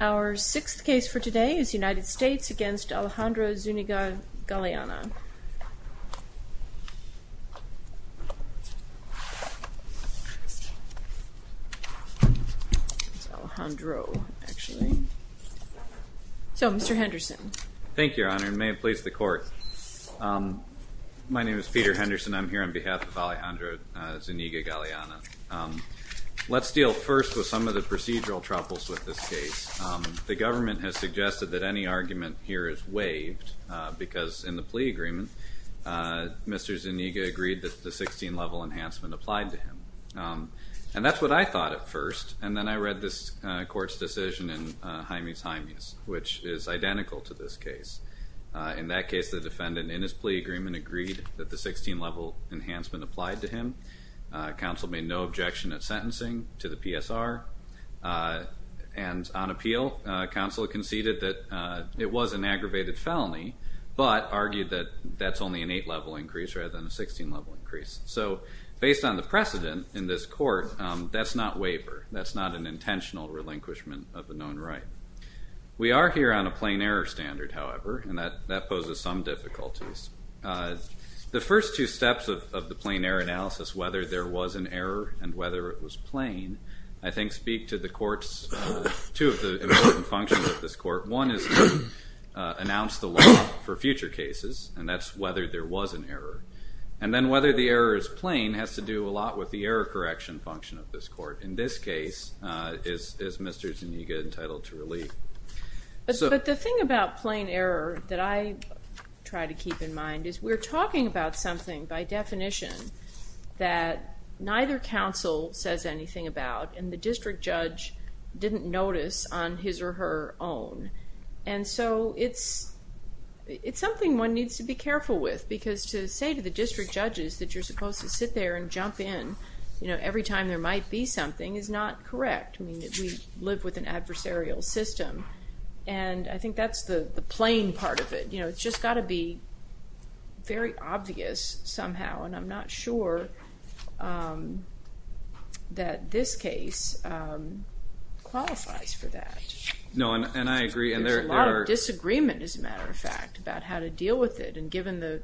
Our sixth case for today is United States v. Alejandra Zuniga-Galeana. So, Mr. Henderson. Thank you, Your Honor, and may it please the court. My name is Peter Henderson. I'm here on behalf of Alejandra Zuniga-Galeana. Let's deal first with some of the procedural troubles with this case. The government has suggested that any argument here is waived because in the plea agreement, Mr. Zuniga agreed that the 16-level enhancement applied to him. And that's what I thought at first. And then I read this court's decision in Jaime's Jaime's, which is identical to this case. In that case, the defendant in his plea agreement agreed that the 16-level enhancement applied to him. Counsel made no objection at sentencing to the PSR. And on appeal, counsel conceded that it was an aggravated felony, but argued that that's only an 8-level increase rather than a 16-level increase. So, based on the precedent in this court, that's not waiver. That's not an intentional relinquishment of a known right. We are here on a plain error standard, however, and that poses some difficulties. The first two steps of the plain error analysis, whether there was an error and whether it was plain, I think speak to two of the important functions of this court. One is to announce the law for future cases, and that's whether there was an error. And then whether the error is plain has to do a lot with the error correction function of this court. In this case, is Mr. Zuniga entitled to relief? But the thing about plain error that I try to keep in mind is we're talking about something by definition that neither counsel says anything about, and the district judge didn't notice on his or her own. And so it's something one needs to be careful with, because to say to the district judges that you're supposed to sit there and jump in, every time there might be something, is not correct. We live with an adversarial system, and I think that's the plain part of it. It's just got to be very obvious somehow, and I'm not sure that this case qualifies for that. There's a lot of disagreement, as a matter of fact, about how to deal with it. And given the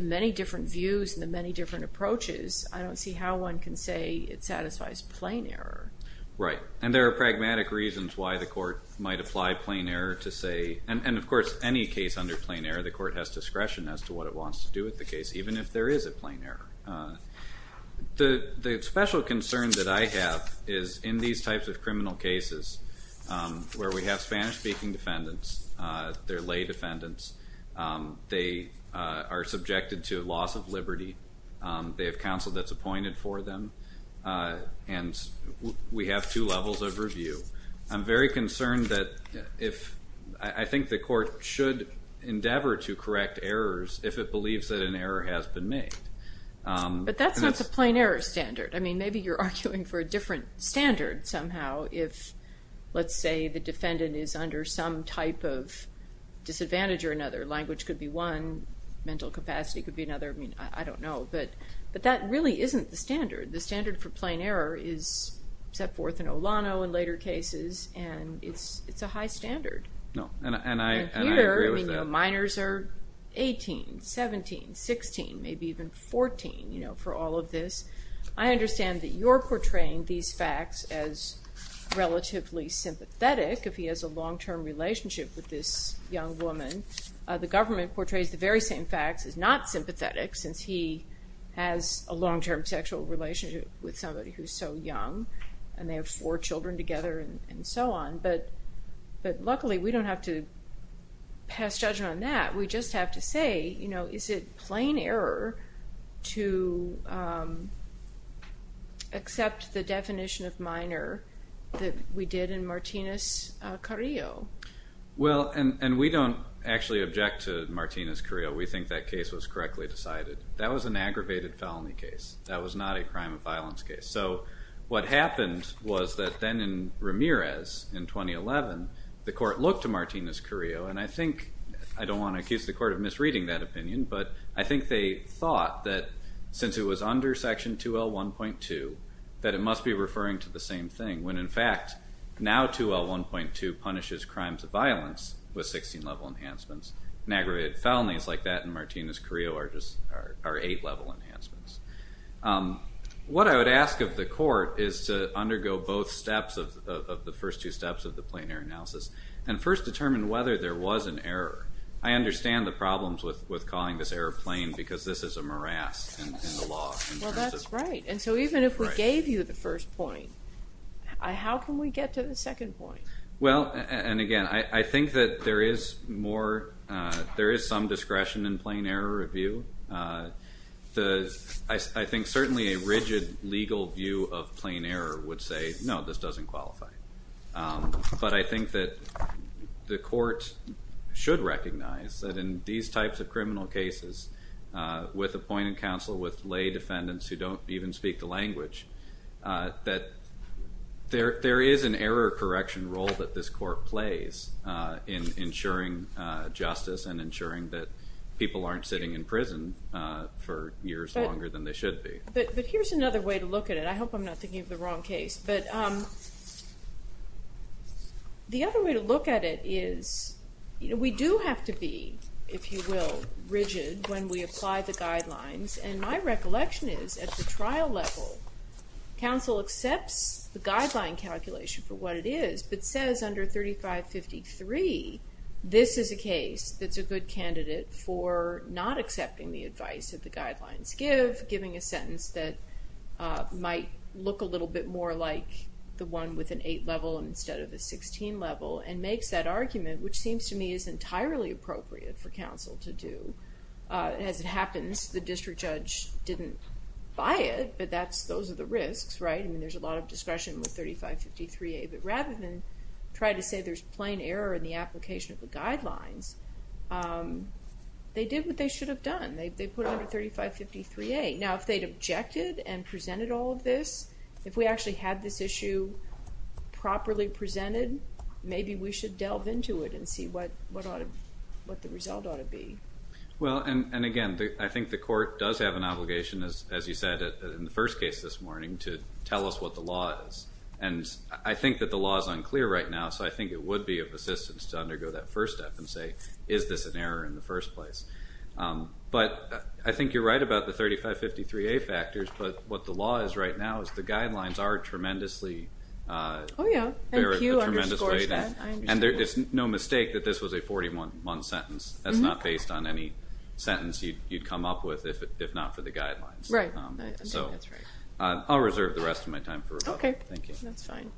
many different views and the many different approaches, I don't see how one can say it satisfies plain error. Right, and there are pragmatic reasons why the court might apply plain error to say— and of course, any case under plain error, the court has discretion as to what it wants to do with the case, even if there is a plain error. The special concern that I have is in these types of criminal cases, where we have Spanish-speaking defendants, they're lay defendants, they are subjected to loss of liberty, they have counsel that's appointed for them, and we have two levels of review. I'm very concerned that if—I think the court should endeavor to correct errors if it believes that an error has been made. But that's not the plain error standard. I mean, maybe you're arguing for a different standard, somehow, if, let's say, the defendant is under some type of disadvantage or another. Language could be one, mental capacity could be another. I mean, I don't know. But that really isn't the standard. The standard for plain error is set forth in Olano in later cases, and it's a high standard. And here, minors are 18, 17, 16, maybe even 14 for all of this. I understand that you're portraying these facts as relatively sympathetic if he has a long-term relationship with this young woman. The government portrays the very same facts as not sympathetic since he has a long-term sexual relationship with somebody who's so young, and they have four children together, and so on. But luckily, we don't have to pass judgment on that. We just have to say, you know, is it plain error to accept the definition of minor that we did in Martinez-Carrillo? Well, and we don't actually object to Martinez-Carrillo. We think that case was correctly decided. That was an aggravated felony case. That was not a crime of violence case. So what happened was that then in Ramirez in 2011, the court looked to Martinez-Carrillo, and I don't want to accuse the court of misreading that opinion, but I think they thought that since it was under Section 2L1.2, that it must be referring to the same thing, when in fact now 2L1.2 punishes crimes of violence with 16-level enhancements. And aggravated felonies like that in Martinez-Carrillo are 8-level enhancements. What I would ask of the court is to undergo both steps of the first two steps of the plain error analysis and first determine whether there was an error. I understand the problems with calling this error plain because this is a morass in the law. Well, that's right. And so even if we gave you the first point, how can we get to the second point? Well, and again, I think that there is some discretion in plain error review. I think certainly a rigid legal view of plain error would say, no, this doesn't qualify. But I think that the court should recognize that in these types of criminal cases with appointed counsel, with lay defendants who don't even speak the language, that there is an error correction role that this court plays in ensuring justice and ensuring that people aren't sitting in prison for years longer than they should be. But here's another way to look at it. I hope I'm not thinking of the wrong case. But the other way to look at it is we do have to be, if you will, rigid when we apply the guidelines. And my recollection is at the trial level, counsel accepts the guideline calculation for what it is, but says under 3553, this is a case that's a good candidate for not accepting the advice that the guidelines give, giving a sentence that might look a little bit more like the one with an 8 level instead of a 16 level, and makes that argument, which seems to me is entirely appropriate for counsel to do. As it happens, the district judge didn't buy it, but those are the risks, right? I mean, there's a lot of discretion with 3553A. But rather than try to say there's plain error in the application of the guidelines, they did what they should have done. They put it under 3553A. Now, if they'd objected and presented all of this, if we actually had this issue properly presented, maybe we should delve into it and see what the result ought to be. Well, and again, I think the court does have an obligation, as you said in the first case this morning, to tell us what the law is. And I think that the law is unclear right now, so I think it would be of assistance to undergo that first step and say, is this an error in the first place? But I think you're right about the 3553A factors, but what the law is right now is the guidelines are tremendously Oh, yeah. And Pew underscores that. And it's no mistake that this was a 41-month sentence. That's not based on any sentence you'd come up with if not for the guidelines. Right. So I'll reserve the rest of my time for rebuttal. Okay. Thank you. That's fine.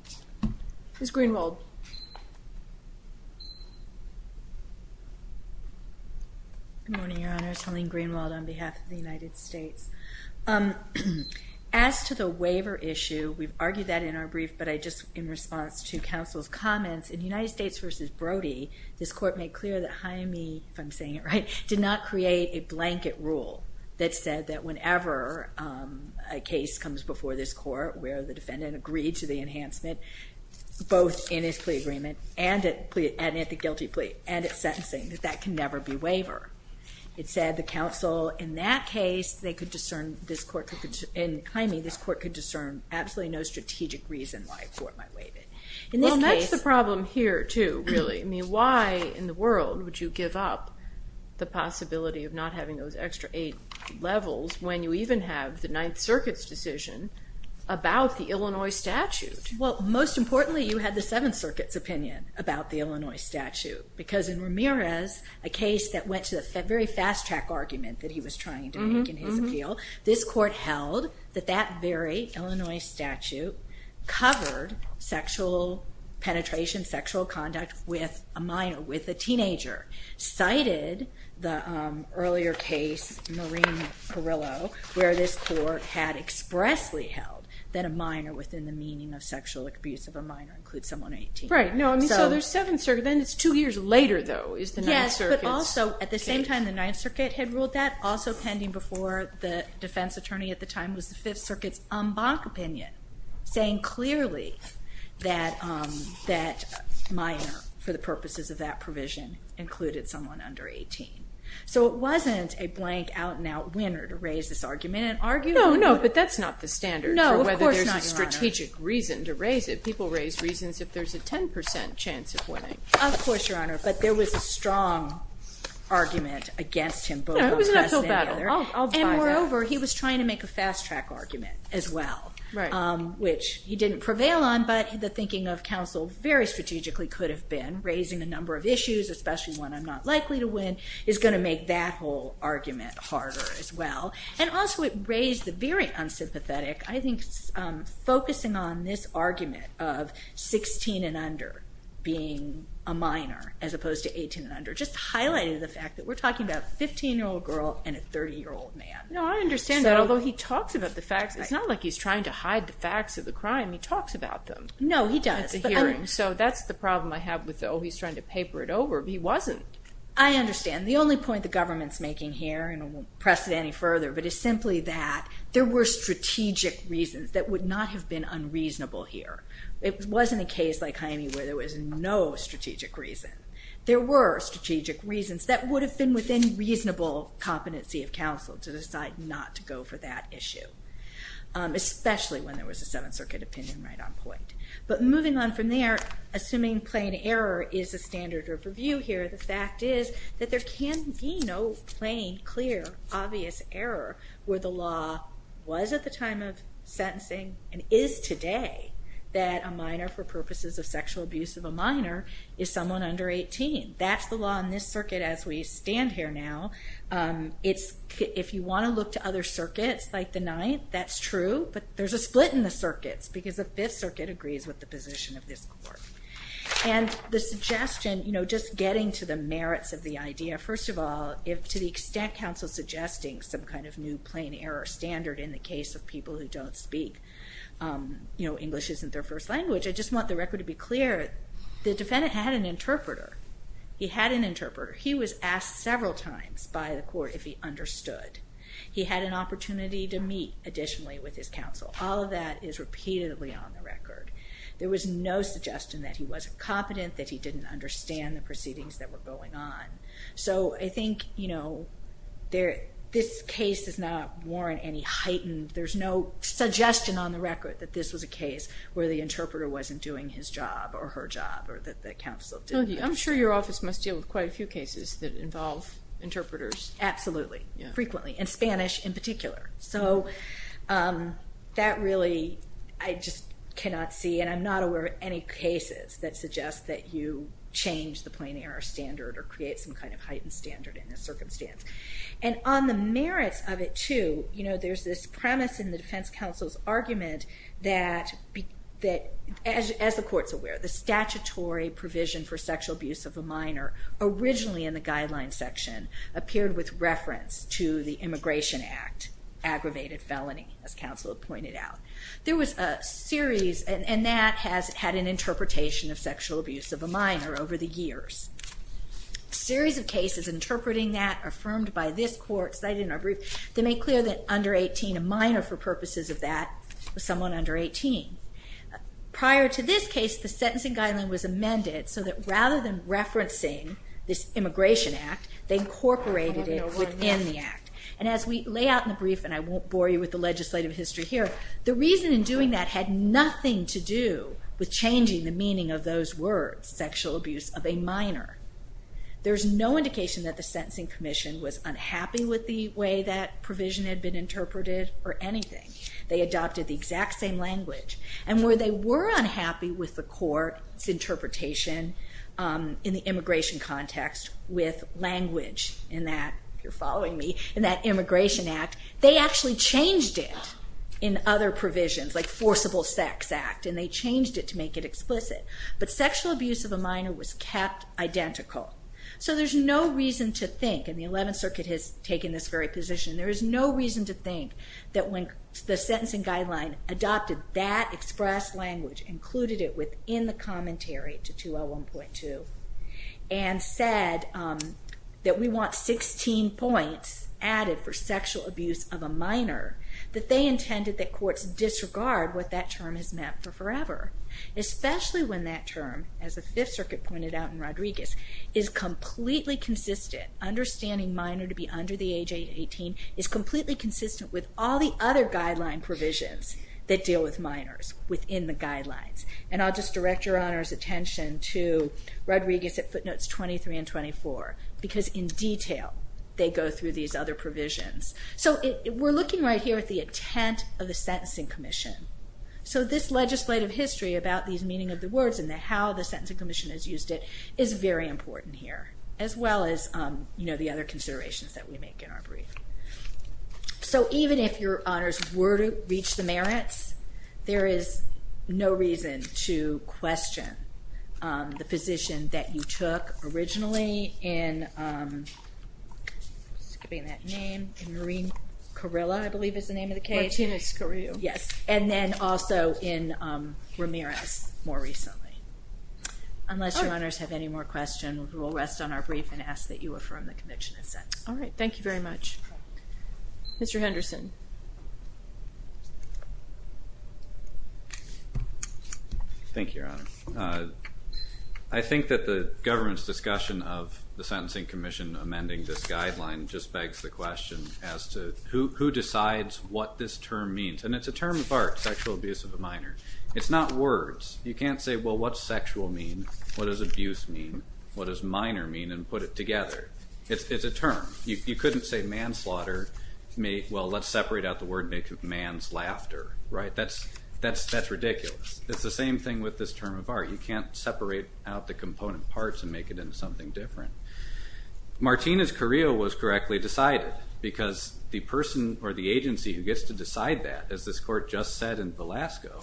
Ms. Greenwald. Good morning, Your Honors. Helene Greenwald on behalf of the United States. As to the waiver issue, we've argued that in our brief, but I just, in response to counsel's comments, in United States v. Brody, this court made clear that Jaime, if I'm saying it right, did not create a blanket rule that said that whenever a case comes before this court where the defendant agreed to the enhancement, both in his plea agreement and at the guilty plea and at sentencing, that that can never be waiver. It said the counsel in that case, they could discern, this court could, in Jaime, this court could discern absolutely no strategic reason why a court might waive it. Well, that's the problem here, too, really. I mean, why in the world would you give up the possibility of not having those extra eight levels when you even have the Ninth Circuit's decision about the Illinois statute? Well, most importantly, you had the Seventh Circuit's opinion about the Illinois statute. Because in Ramirez, a case that went to the very fast-track argument that he was trying to make in his appeal, this court held that that very Illinois statute covered sexual penetration, sexual conduct with a minor, with a teenager. Cited the earlier case, Marine Carrillo, where this court had expressly held that a minor within the meaning of sexual abuse of a minor includes someone 18. Right. No, I mean, so there's Seventh Circuit. Then it's two years later, though, is the Ninth Circuit's opinion. Yes, but also, at the same time the Ninth Circuit had ruled that, also pending before the defense attorney at the time was the Fifth Circuit's Umbach opinion, saying clearly that minor, for the purposes of that provision, included someone under 18. So it wasn't a blank, out-and-out winner to raise this argument. No, no, but that's not the standard for whether there's a strategic reason to raise it. People raise reasons if there's a 10% chance of winning. Of course, Your Honor, but there was a strong argument against him, both on test and the other. No, it was not so bad. I'll buy that. And moreover, he was trying to make a fast-track argument as well, which he didn't prevail on, but the thinking of counsel very strategically could have been, raising a number of issues, especially one I'm not likely to win, is going to make that whole argument harder as well. And also, it raised the very unsympathetic, I think, focusing on this argument of 16 and under being a minor, as opposed to 18 and under, just highlighted the fact that we're talking about a 15-year-old girl and a 30-year-old man. No, I understand that, although he talks about the facts. It's not like he's trying to hide the facts of the crime. He talks about them at the hearing. No, he does. So that's the problem I have with, oh, he's trying to paper it over. He wasn't. I understand. The only point the government's making here, and I won't press it any further, but it's simply that there were strategic reasons that would not have been unreasonable here. It wasn't a case like Jaime where there was no strategic reason. There were strategic reasons that would have been within reasonable competency of counsel to decide not to go for that issue, especially when there was a Seventh Circuit opinion right on point. But moving on from there, assuming plain error is a standard of review here, the fact is that there can be no plain, clear, obvious error where the law was at the time of sentencing and is today that a minor, for purposes of sexual abuse of a minor, is someone under 18. That's the law in this circuit as we stand here now. If you want to look to other circuits like the Ninth, that's true, but there's a split in the circuits because the Fifth Circuit agrees with the position of this court. And the suggestion, just getting to the merits of the idea, first of all, if to the extent counsel's suggesting some kind of new plain error standard in the case of people who don't speak, you know, English isn't their first language, I just want the record to be clear, the defendant had an interpreter. He had an interpreter. He was asked several times by the court if he understood. He had an opportunity to meet additionally with his counsel. All of that is repeatedly on the record. There was no suggestion that he wasn't competent, that he didn't understand the proceedings that were going on. So I think, you know, this case is not warrant any heightened, there's no suggestion on the record that this was a case where the interpreter wasn't doing his job or her job or that the counsel didn't understand. I'm sure your office must deal with quite a few cases that involve interpreters. Absolutely. Frequently. And Spanish in particular. So that really, I just cannot see, and I'm not aware of any cases that suggest that you change the plain error standard or create some kind of heightened standard in this circumstance. And on the merits of it too, you know, there's this premise in the defense counsel's argument that, as the court's aware, the statutory provision for sexual abuse of a minor originally in the guidelines section appeared with reference to the Immigration Act, aggravated felony, as counsel pointed out. There was a series, and that has had an interpretation of sexual abuse of a minor over the years. A series of cases interpreting that, affirmed by this court, cited in our brief, they make clear that under 18, a minor for purposes of that, was someone under 18. Prior to this case, the sentencing guideline was amended so that rather than referencing this Immigration Act, they incorporated it within the Act. And as we lay out in the brief, and I won't bore you with the legislative history here, the reason in doing that had nothing to do with changing the meaning of those words, sexual abuse of a minor. There's no indication that the sentencing commission was unhappy with the way that provision had been interpreted or anything. They adopted the exact same language. And where they were unhappy with the court's interpretation in the immigration context with language in that, if you're following me, in that Immigration Act, they actually changed it in other provisions, like forcible sex act, and they changed it to make it explicit. But sexual abuse of a minor was kept identical. So there's no reason to think, and the 11th Circuit has taken this very position, there is no reason to think that when the sentencing guideline adopted that expressed language, included it within the commentary to 201.2, and said that we want 16 points added for sexual abuse of a minor, that they intended that courts disregard what that term has meant for forever. Especially when that term, as the 5th Circuit pointed out in Rodriguez, is completely consistent. Understanding minor to be under the age of 18 is completely consistent with all the other guideline provisions that deal with minors within the guidelines. And I'll just direct Your Honor's attention to Rodriguez at footnotes 23 and 24, because in detail they go through these other provisions. So we're looking right here at the intent of the sentencing commission. So this legislative history about these meaning of the words and how the sentencing commission has used it is very important here, as well as the other considerations that we make in our brief. So even if Your Honors were to reach the merits, there is no reason to question the position that you took originally in, I'm skipping that name, in Maureen Carrillo, I believe is the name of the case. Yes, and then also in Ramirez more recently. Unless Your Honors have any more questions, we will rest on our brief and ask that you affirm the conviction of sentence. All right, thank you very much. Mr. Henderson. Thank you, Your Honor. I think that the government's discussion of the sentencing commission amending this guideline just begs the question as to who decides what this term means. And it's a term of art, sexual abuse of a minor. It's not words. You can't say, well, what's sexual mean, what does abuse mean, what does minor mean, and put it together. It's a term. You couldn't say manslaughter, well, let's separate out the word and make it man's laughter. That's ridiculous. It's the same thing with this term of art. You can't separate out the component parts and make it into something different. Martina's career was correctly decided because the person or the agency who gets to decide that, as this court just said in Velasco,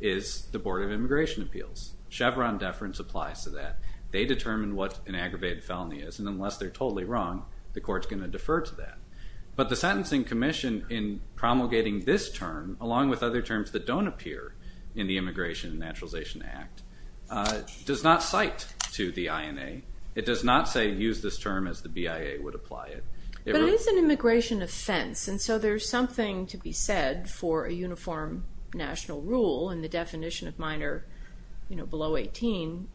is the Board of Immigration Appeals. Chevron deference applies to that. They determine what an aggravated felony is, and unless they're totally wrong, the court's going to defer to that. But the sentencing commission, in promulgating this term, along with other terms that don't appear in the Immigration and Naturalization Act, does not cite to the INA. It does not say use this term as the BIA would apply it. But it is an immigration offense, and so there's something to be said for a uniform national rule, and the definition of minor below 18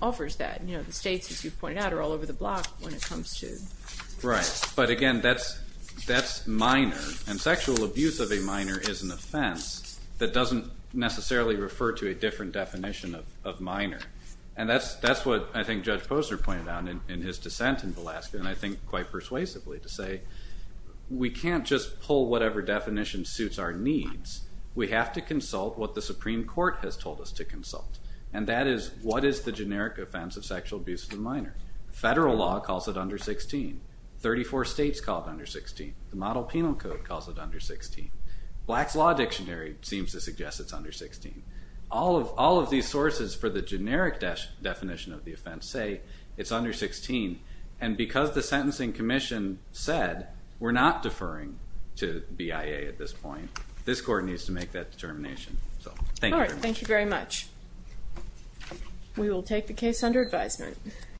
offers that. The states, as you've pointed out, are all over the block when it comes to that. Right, but again, that's minor, and sexual abuse of a minor is an offense that doesn't necessarily refer to a different definition of minor. And that's what I think Judge Posner pointed out in his dissent in Velasco, and I think quite persuasively to say we can't just pull whatever definition suits our needs. We have to consult what the Supreme Court has told us to consult, and that is what is the generic offense of sexual abuse of a minor. Federal law calls it under 16. Thirty-four states call it under 16. The Model Penal Code calls it under 16. Black's Law Dictionary seems to suggest it's under 16. All of these sources for the generic definition of the offense say it's under 16, and because the Sentencing Commission said we're not deferring to BIA at this point, this Court needs to make that determination. So thank you very much. All right, thank you very much. We will take the case under advisement.